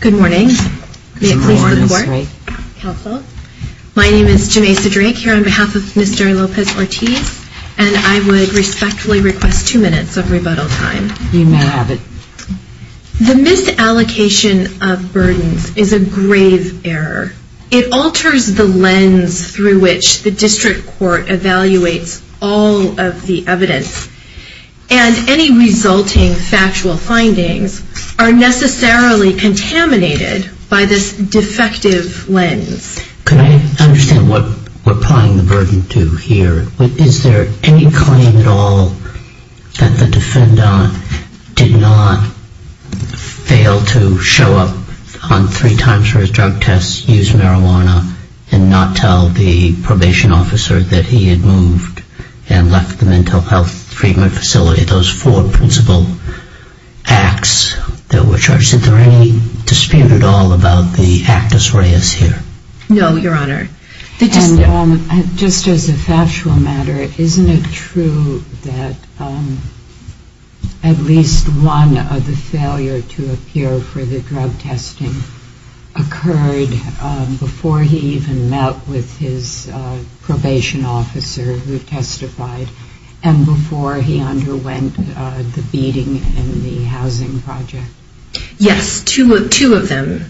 Good morning. May it please the court, counsel. My name is Jamesa Drake here on behalf of Mr. Lopez-Ortiz and I would respectfully request two minutes of rebuttal time. You may have it. The misallocation of burdens is a grave error. It alters the lens through which the district court evaluates all of the evidence and any resulting factual findings are necessarily contaminated by this defective lens. Could I understand what we're applying the burden to here? Is there any claim at all that the defendant did not fail to show up on three times for his drug tests, use marijuana, and not tell the probation officer that he had moved and left the mental health treatment facility? No, Your Honor. And just as a factual matter, isn't it true that at least one of the failure to appear for the drug testing occurred before he even met with his probation officer who testified and before he underwent the drug testing? Yes, two of them.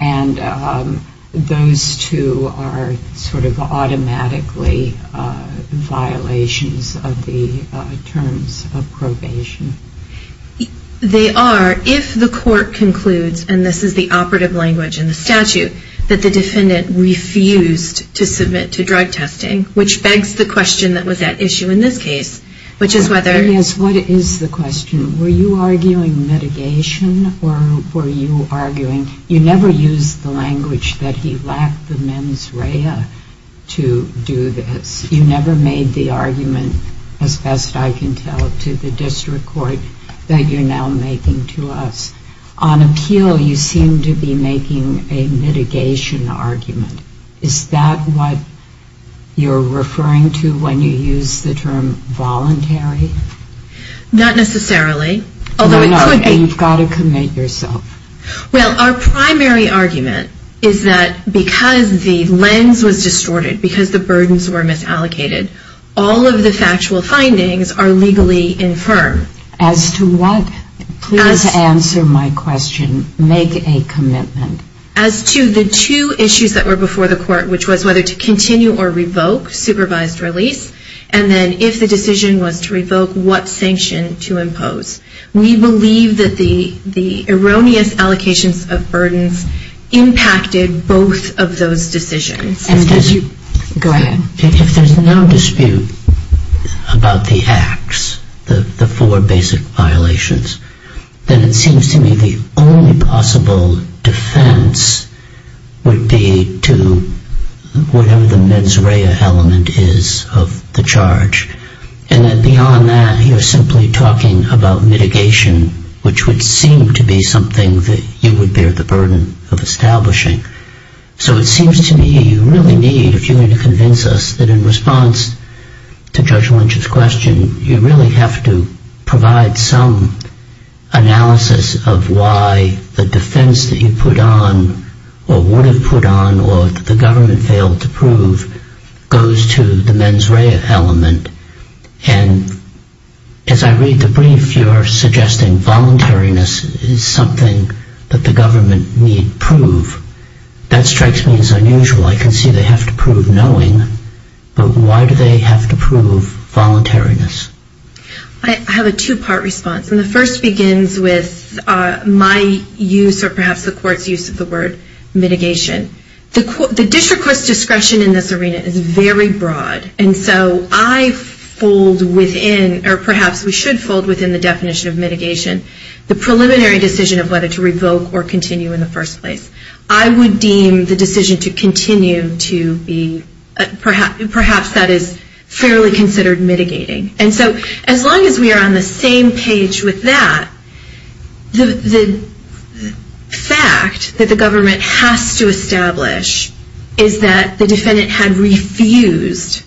And those two are sort of automatically violations of the terms of probation? They are if the court concludes, and this is the operative language in the statute, that the defendant refused to submit to drug testing, which begs the question that was at issue in this case, which is whether… Yes, what is the question? Were you arguing mitigation or were you arguing – you never used the language that he lacked the mens rea to do this. You never made the argument, as best I can tell, to the district court that you're now making to us. On appeal, you seem to be making a mitigation argument. Is that what you're referring to when you use the term voluntary? Not necessarily. You've got to commit yourself. Well, our primary argument is that because the lens was distorted, because the burdens were misallocated, all of the factual findings are legally infirm. As to what? Please answer my question. Make a commitment. As to the two issues that were before the court, which was whether to continue or revoke supervised release, and then if the decision was to revoke, what sanction to impose, we believe that the erroneous allocations of burdens impacted both of those decisions. Go ahead. If there's no dispute about the acts, the four basic violations, then it seems to me the only possible defense would be to whatever the mens rea element is of the charge. Beyond that, you're simply talking about mitigation, which would seem to be something that you would bear the burden of establishing. So it seems to me you really need, if you're going to convince us, that in response to Judge Lynch's question, you really have to provide some analysis of why the defense that you put on, or would have put on, or that the government failed to prove, goes to the mens rea element. And as I read the brief, you're suggesting voluntariness is something that the government need prove. That strikes me as unusual. I can see they have to prove knowing, but why do they have to prove voluntariness? I have a two-part response, and the first begins with my use, or perhaps the court's use, of the word mitigation. The district court's discretion in this arena is very broad, and so I fold within, or perhaps we should fold within the definition of mitigation, the preliminary decision of whether to revoke or continue in the first place. I would deem the decision to continue to be, perhaps that is fairly considered mitigating. And so as long as we are on the same page with that, the fact that the government has to establish is that the defendant had refused,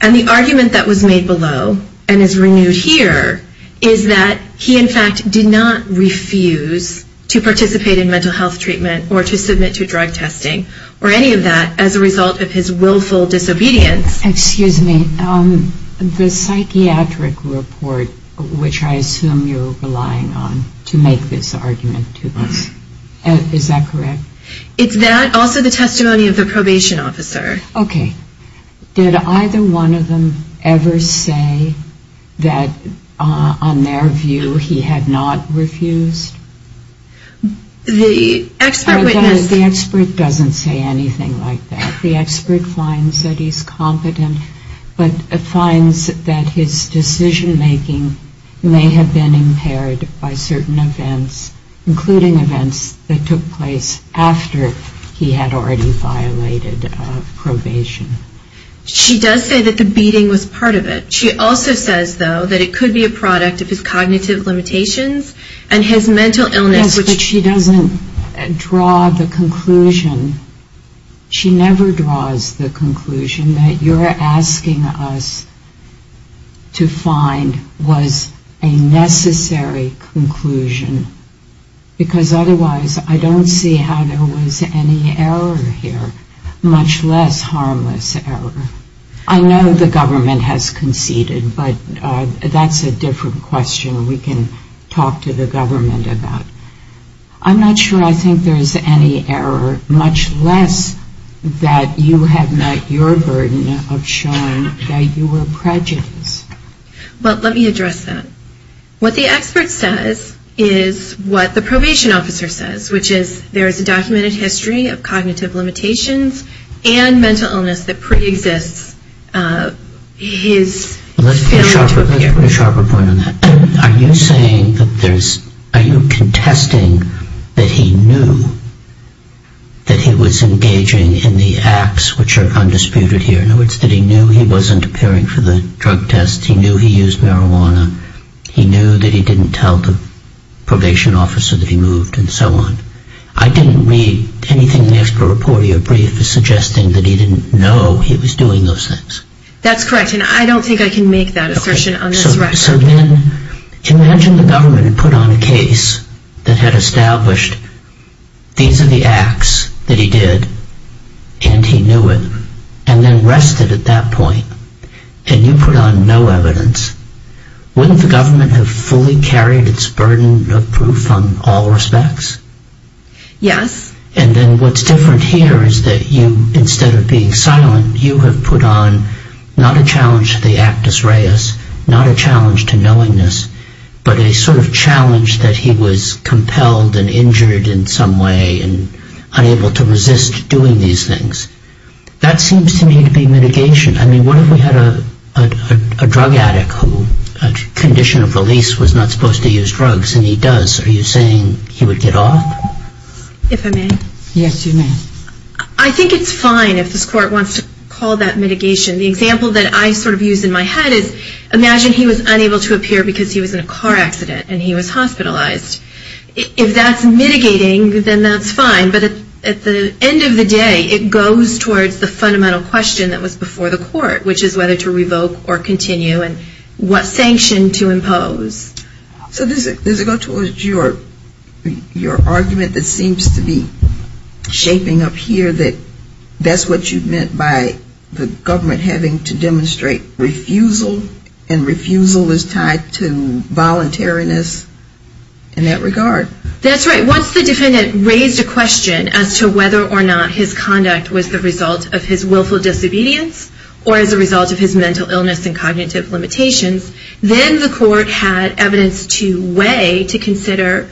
and the argument that was made below, and is renewed here, is that he, in fact, did not refuse to participate in mental health treatment or to submit to drug testing, or any of that, as a result of his willful disobedience. Excuse me, the psychiatric report, which I assume you're relying on to make this argument, is that correct? It's that, also the testimony of the probation officer. Okay. Did either one of them ever say that, on their view, he had not refused? The expert witness The expert doesn't say anything like that. The expert finds that he's competent, but finds that his decision-making may have been impaired by certain events, including events that took place after he had already violated probation. She does say that the beating was part of it. She also says, though, that it could be a product of his cognitive limitations and his mental illness. Yes, but she doesn't draw the conclusion. She never draws the conclusion that you're asking us to find was a necessary conclusion. Because, otherwise, I don't see how there was any error here, much less harmless error. I know the government has conceded, but that's a different question we can talk to the government about. I'm not sure I think there's any error, much less that you have met your burden of showing that you were prejudiced. Well, let me address that. What the expert says is what the probation officer says, which is there is a documented history of cognitive limitations and mental illness that pre-exists his failure to appear. Let's put a sharper point on that. Are you saying that there's, are you contesting that he knew that he was engaging in the acts which are undisputed here? In other words, that he knew he wasn't appearing for the drug tests, he knew he used marijuana, he knew that he didn't tell the probation officer that he moved, and so on. I didn't read anything in the expert report. Your brief is suggesting that he didn't know he was doing those things. That's correct, and I don't think I can make that assertion on this record. So then, imagine the government had put on a case that had established these are the acts that he did, and he knew it, and then rested at that point, and you put on no evidence. Wouldn't the government have fully carried its burden of proof on all respects? Yes. And then what's different here is that you, instead of being silent, you have put on not a challenge to the actus reus, not a challenge to knowingness, but a sort of challenge that he was compelled and injured in some way and unable to resist doing these things. That seems to me to be mitigation. I mean, what if we had a drug addict who, a condition of release was not supposed to use drugs, and he does, are you saying he would get off? If I may? Yes, you may. I think it's fine if this Court wants to call that mitigation. The example that I sort of use in my head is, imagine he was unable to appear because he was in a car accident, and he was hospitalized. If that's mitigating, then that's fine, but at the end of the day, it goes towards the fundamental question that was before the Court, which is whether to revoke or continue, and what sanction to impose. So does it go towards your argument that seems to be shaping up here that that's what you meant by the government having to demonstrate refusal, and refusal is tied to voluntariness in that regard? That's right. Once the defendant raised a question as to whether or not his conduct was the result of his willful disobedience, or as a result of his mental illness and cognitive limitations, then the Court had evidence to weigh, to consider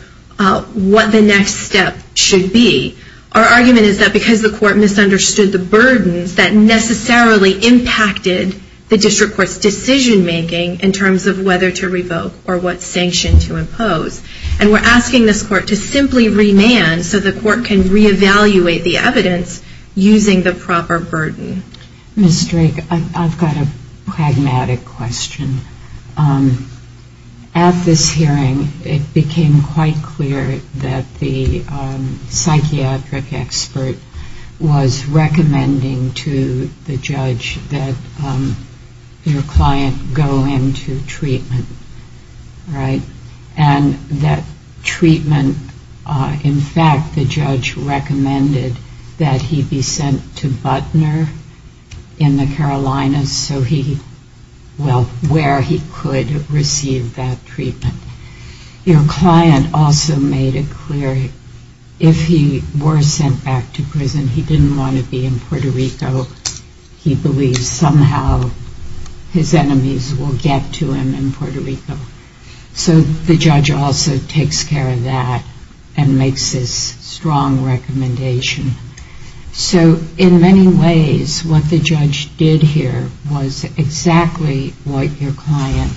what the next step should be. Our argument is that because the Court misunderstood the burdens that necessarily impacted the district court's decision-making in terms of whether to revoke or what sanction to impose, and we're asking this Court to simply remand so the Court can reevaluate the evidence using the proper burden. Ms. Drake, I've got a pragmatic question. At this hearing, it became quite clear that the psychiatric expert was recommending to the judge that your client go into treatment, right? And that treatment, in fact, the judge recommended that he be sent to Butner, New York. Your client also made it clear if he were sent back to prison, he didn't want to be in Puerto Rico. He believes somehow his enemies will get to him in Puerto Rico. So the judge also takes care of that and makes this strong recommendation. So in many ways, what the judge did here was exactly what your client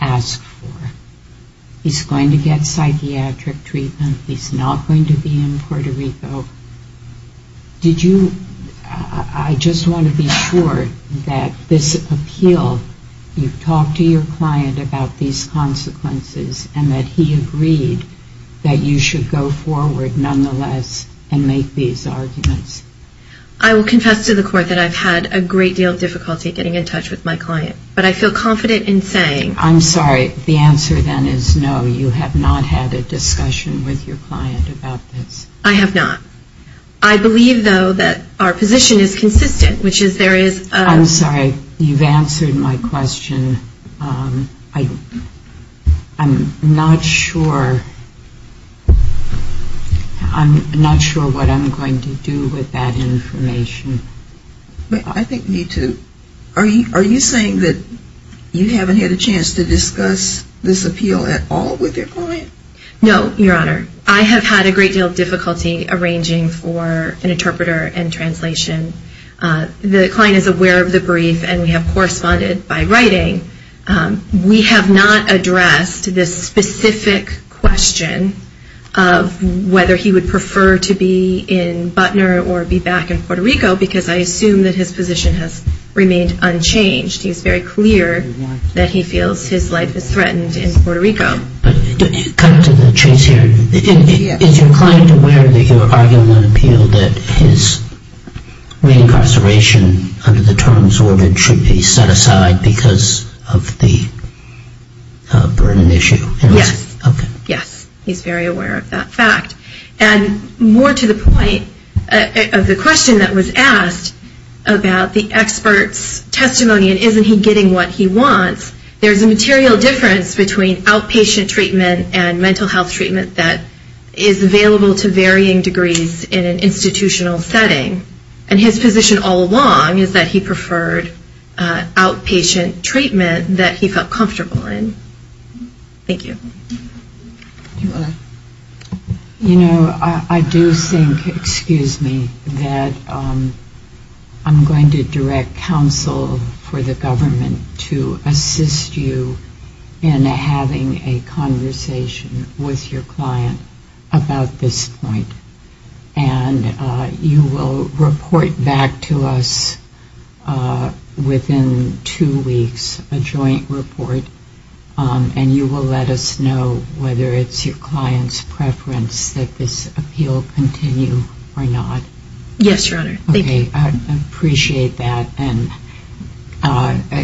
asked for. He's going to get psychiatric treatment. He's not going to be in Puerto Rico. Did you, I just want to be sure that this appeal, you've talked to your client about these consequences and that he agreed that you should go forward, nonetheless, and go into treatment. I will confess to the Court that I've had a great deal of difficulty getting in touch with my client. But I feel confident in saying... I'm sorry, the answer then is no, you have not had a discussion with your client about this. I have not. I believe, though, that our position is consistent, which is there is a... I'm sorry, you've answered my question. I'm not sure... I'm not sure what I'm going to do with that information. I think we need to... Are you saying that you haven't had a chance to discuss this appeal at all with your client? No, Your Honor. I have had a great deal of difficulty arranging for an interpreter and translation. The client is aware of the brief and we have corresponded by writing. We have not addressed this specific question of whether he would prefer to be in Butner or be back in Puerto Rico because I assume that his position has remained unchanged. He is very clear that he feels his life is threatened in Puerto Rico. Cut to the chase here. Is your client aware that you are arguing on appeal that his reincarceration under the terms ordered should be set aside because of the burden issue? Yes. Okay. I do think, excuse me, that I'm going to direct counsel for the government. to assist you in having a conversation with your client about this point. And you will report back to us within two weeks, a joint report, and you will let us know whether it's your client's preference that this appeal continue or not. Yes, Your Honor. Thank you. Okay. I appreciate that. And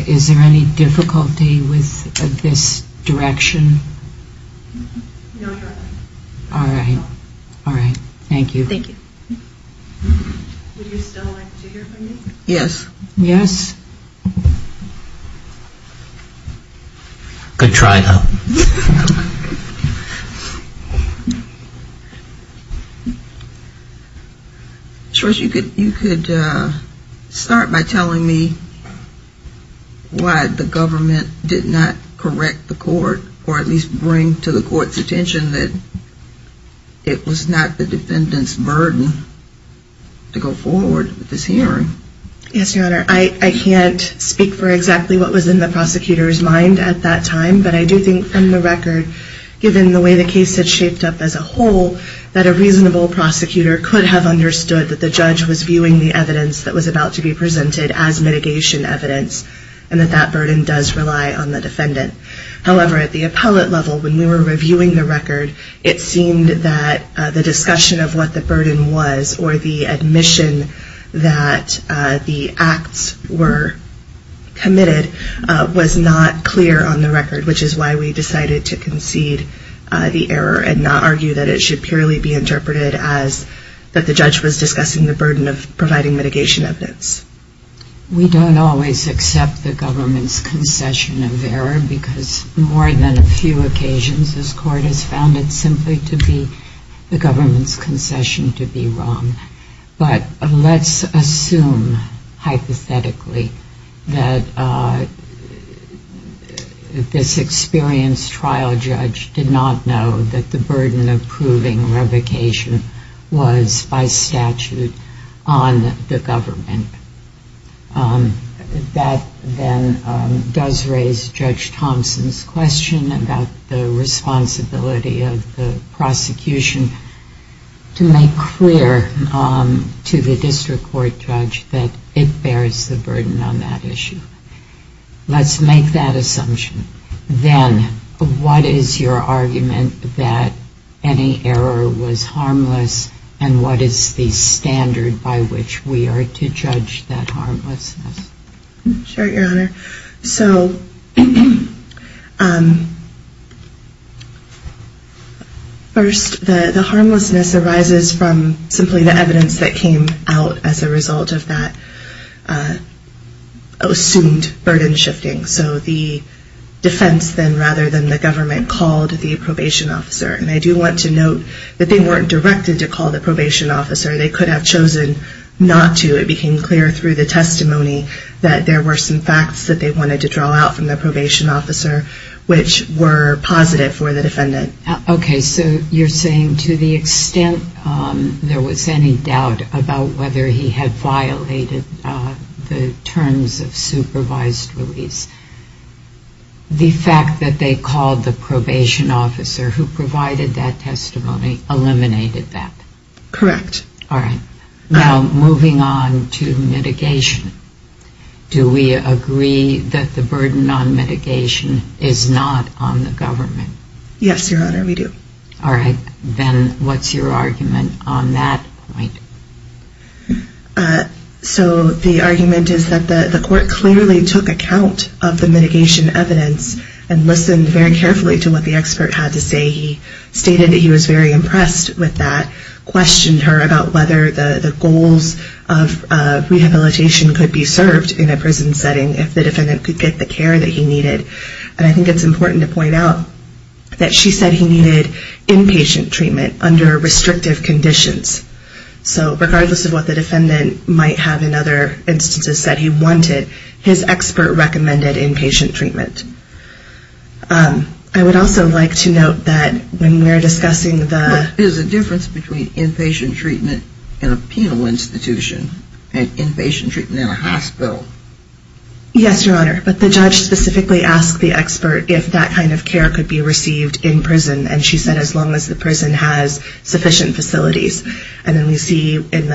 is there any difficulty with this direction? No, Your Honor. All right. All right. Thank you. Thank you. Would you still like to hear from me? Yes. Yes. Good try, though. Sure, you could start by telling me why the government did not correct the court, or at least bring to the court's attention that it was not the defendant's burden to go forward with this hearing. Yes, Your Honor. I can't speak for exactly what was in the prosecutor's mind at that time. But I do think from the record, given the way the case had shaped up as a whole, that a reasonable prosecutor could have understood that the judge was viewing the evidence that was about to be presented as mitigation evidence, and that that burden does rely on the defendant. However, at the appellate level, when we were reviewing the record, it seemed that the discussion of what the burden was, or the admission that the acts were committed, was not clear on the record. Which is why we decided to concede the error, and not argue that it should purely be interpreted as that the judge was discussing the burden of providing mitigation evidence. We don't always accept the government's concession of error, because more than a few occasions, this court has found it simply to be the government's concession to be wrong. But let's assume, hypothetically, that this experienced trial judge did not know that the burden of proving revocation was, by statute, on the government. That then does raise Judge Thompson's question about the responsibility of the prosecution to make clear on the record that the burden of proving revocation was by statute on the government. And then to the district court judge that it bears the burden on that issue. Let's make that assumption. Then, what is your argument that any error was harmless, and what is the standard by which we are to judge that harmlessness? Sure, Your Honor. So, first, the harmlessness arises from simply the evidence that came out as a result of that assumed burden shifting. So the defense then, rather than the government, called the probation officer. And I do want to note that they weren't directed to call the probation officer. They could have chosen not to. It became clear through the testimony that there were some facts that they wanted to draw out from the probation officer, which were positive for the defendant. Okay, so you're saying to the extent there was any doubt about whether he had violated the terms of supervised release, the fact that they called the probation officer who provided that testimony eliminated that? Correct. All right. Now, moving on to mitigation. Do we agree that the burden on mitigation is not on the government? Yes, Your Honor, we do. All right. Then, what's your argument on that point? So the argument is that the court clearly took account of the mitigation evidence and listened very carefully to what the expert had to say. He stated that he was very impressed with that, questioned her about whether the goals of rehabilitation could be served in a prison setting if the defendant could get the care that he needed. And I think it's important to point out that she said he needed inpatient treatment under restrictive conditions. So regardless of what the defendant might have in other instances said he wanted, his expert recommended inpatient treatment. I would also like to note that when we're discussing the... There's a difference between inpatient treatment in a penal institution and inpatient treatment in a hospital. Yes, Your Honor, but the judge specifically asked the expert if that kind of care could be received in prison. And she said as long as the prison has sufficient facilities. And then we see when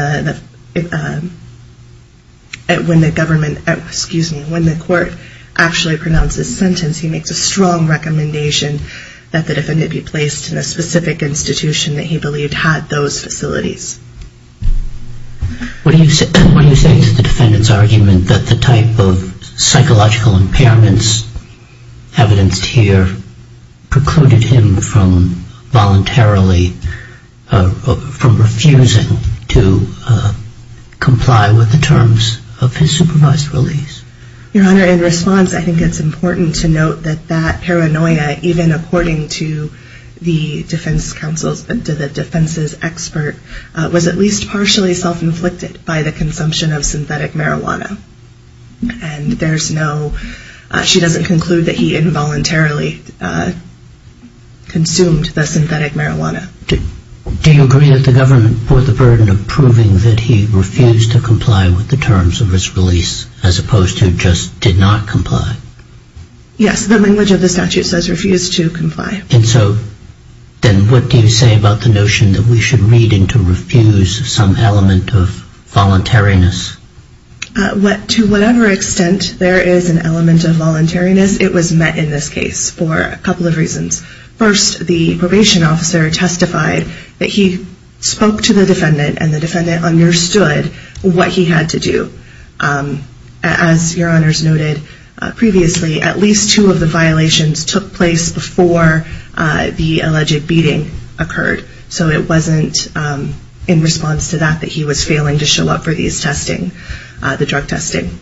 the government... Excuse me. When the court actually pronounces sentence he makes a strong recommendation that the defendant be placed in a specific institution that he believed had those facilities. What do you say to the defendant's argument that the type of psychological impairments evidenced here precluded him from voluntarily... From refusing to comply with the terms of his supervised release? Your Honor, in response I think it's important to note that that paranoia, even according to the defense's expert, was at least partially self-inflicted by the consumption of synthetic marijuana. And there's no... She doesn't conclude that he involuntarily consumed the synthetic marijuana. Do you agree that the government bore the burden of proving that he refused to comply with the terms of his release as opposed to just did not comply? Yes, the language of the statute says refuse to comply. And so then what do you say about the notion that we should read into refuse some element of voluntariness? To whatever extent there is an element of voluntariness, it was met in this case for a couple of reasons. First, the probation officer testified that he spoke to the defendant and the defendant understood what he had to do. As Your Honors noted previously, at least two of the violations took place before the alleged beating occurred. So it wasn't in response to that that he was failing to show up for these testing, the drug testing.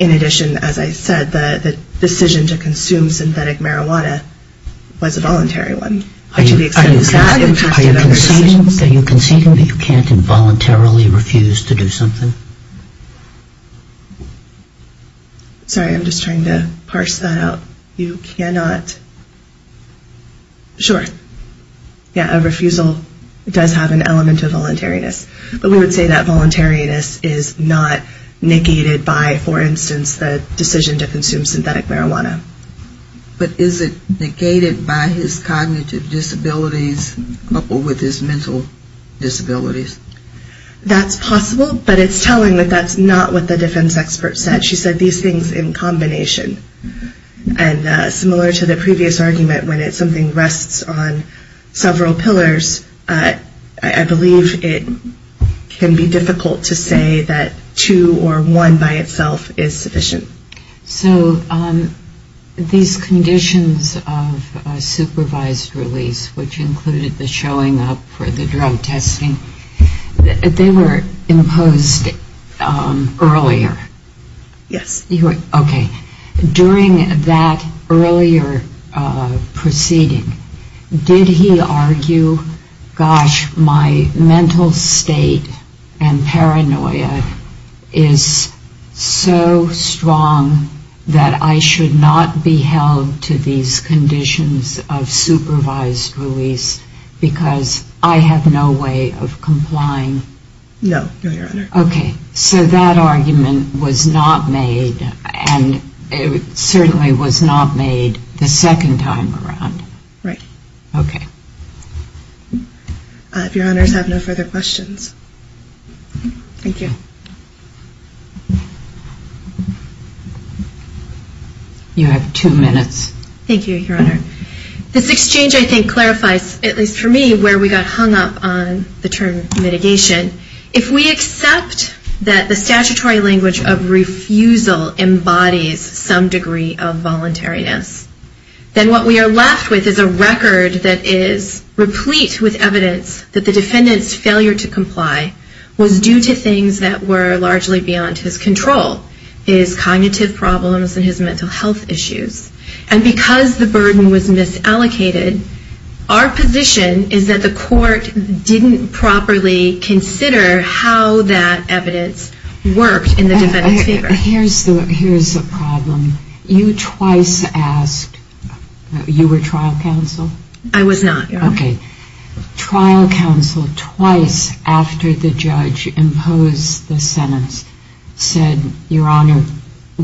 In addition, as I said, the decision to consume synthetic marijuana was a voluntary one. Are you conceding that you can't involuntarily refuse to do something? Sorry, I'm just trying to parse that out. You cannot, sure, yeah, a refusal does have an element of voluntariness. But we would say that voluntariness is not negated by, for instance, the decision to consume synthetic marijuana. But is it negated by his cognitive disabilities coupled with his mental disabilities? That's possible, but it's telling that that's not what the defense expert said. She said these things in combination. And similar to the previous argument, when something rests on several pillars, I believe it can be difficult to say that two or one by itself is sufficient. So these conditions of supervised release, which included the showing up for the drug testing, they were imposed earlier. During that earlier proceeding, did he argue, gosh, my mental state and paranoia is so strong that I should not be held to these conditions of supervised release because I have no way of complying? No, no, Your Honor. Okay, so that argument was not made, and it certainly was not made the second time around. Right. If Your Honors have no further questions. Thank you. You have two minutes. Thank you, Your Honor. This exchange, I think, clarifies, at least for me, where we got hung up on the term mitigation. If we accept that the statutory language of refusal embodies some degree of voluntariness, then what we are left with is a record that is replete with evidence that the defendant's failure to comply was due to things that were largely beyond his control, his cognitive problems and his mental health issues. And because the burden was misallocated, our position is that the court didn't properly consider that the defendant's failure to comply was due to things that were largely beyond his control, his cognitive problems and his mental health issues. And so we have to reconsider how that evidence worked in the defendant's favor. Here's the problem. You twice asked, you were trial counsel? I was not, Your Honor. Okay. Trial counsel twice after the judge imposed the sentence said, Your Honor,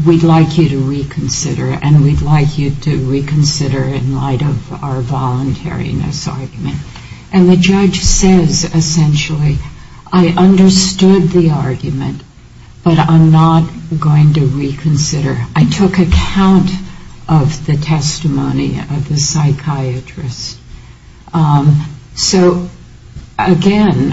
we'd like you to reconsider, and we'd like you to reconsider in light of our voluntariness argument. And the judge says, essentially, I understood the argument, but I'm not going to reconsider. I took account of the testimony of the psychiatrist. So, again,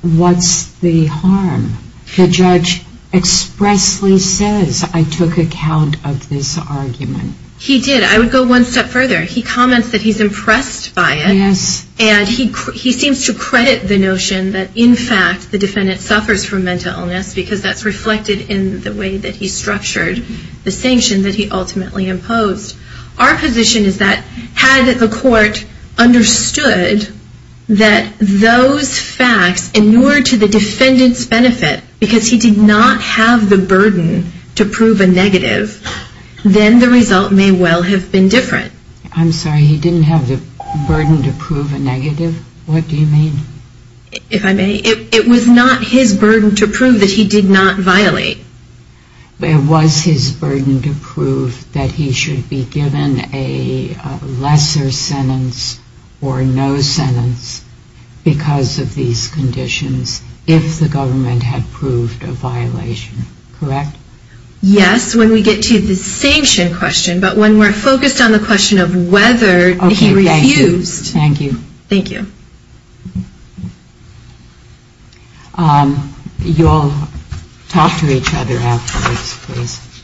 what's the harm? The judge expressly says, I took account of this argument. He did. I would go one step further. He comments that he's impressed by it, and he seems to credit the notion that, in fact, the defendant suffers from mental illness, because that's reflected in the way that he structured the sanction that he ultimately imposed. Our position is that had the court understood that those facts inured to the defendant's benefit, because he did not have the burden to prove a negative, then the result may well have been a negative. I'm sorry. He didn't have the burden to prove a negative? What do you mean? If I may, it was not his burden to prove that he did not violate. It was his burden to prove that he should be given a lesser sentence or no sentence because of these conditions, if the government had proved a violation, correct? Yes, when we get to the sanction question, but when we're focused on the question of whether he refused. Thank you. You all talk to each other afterwards, please.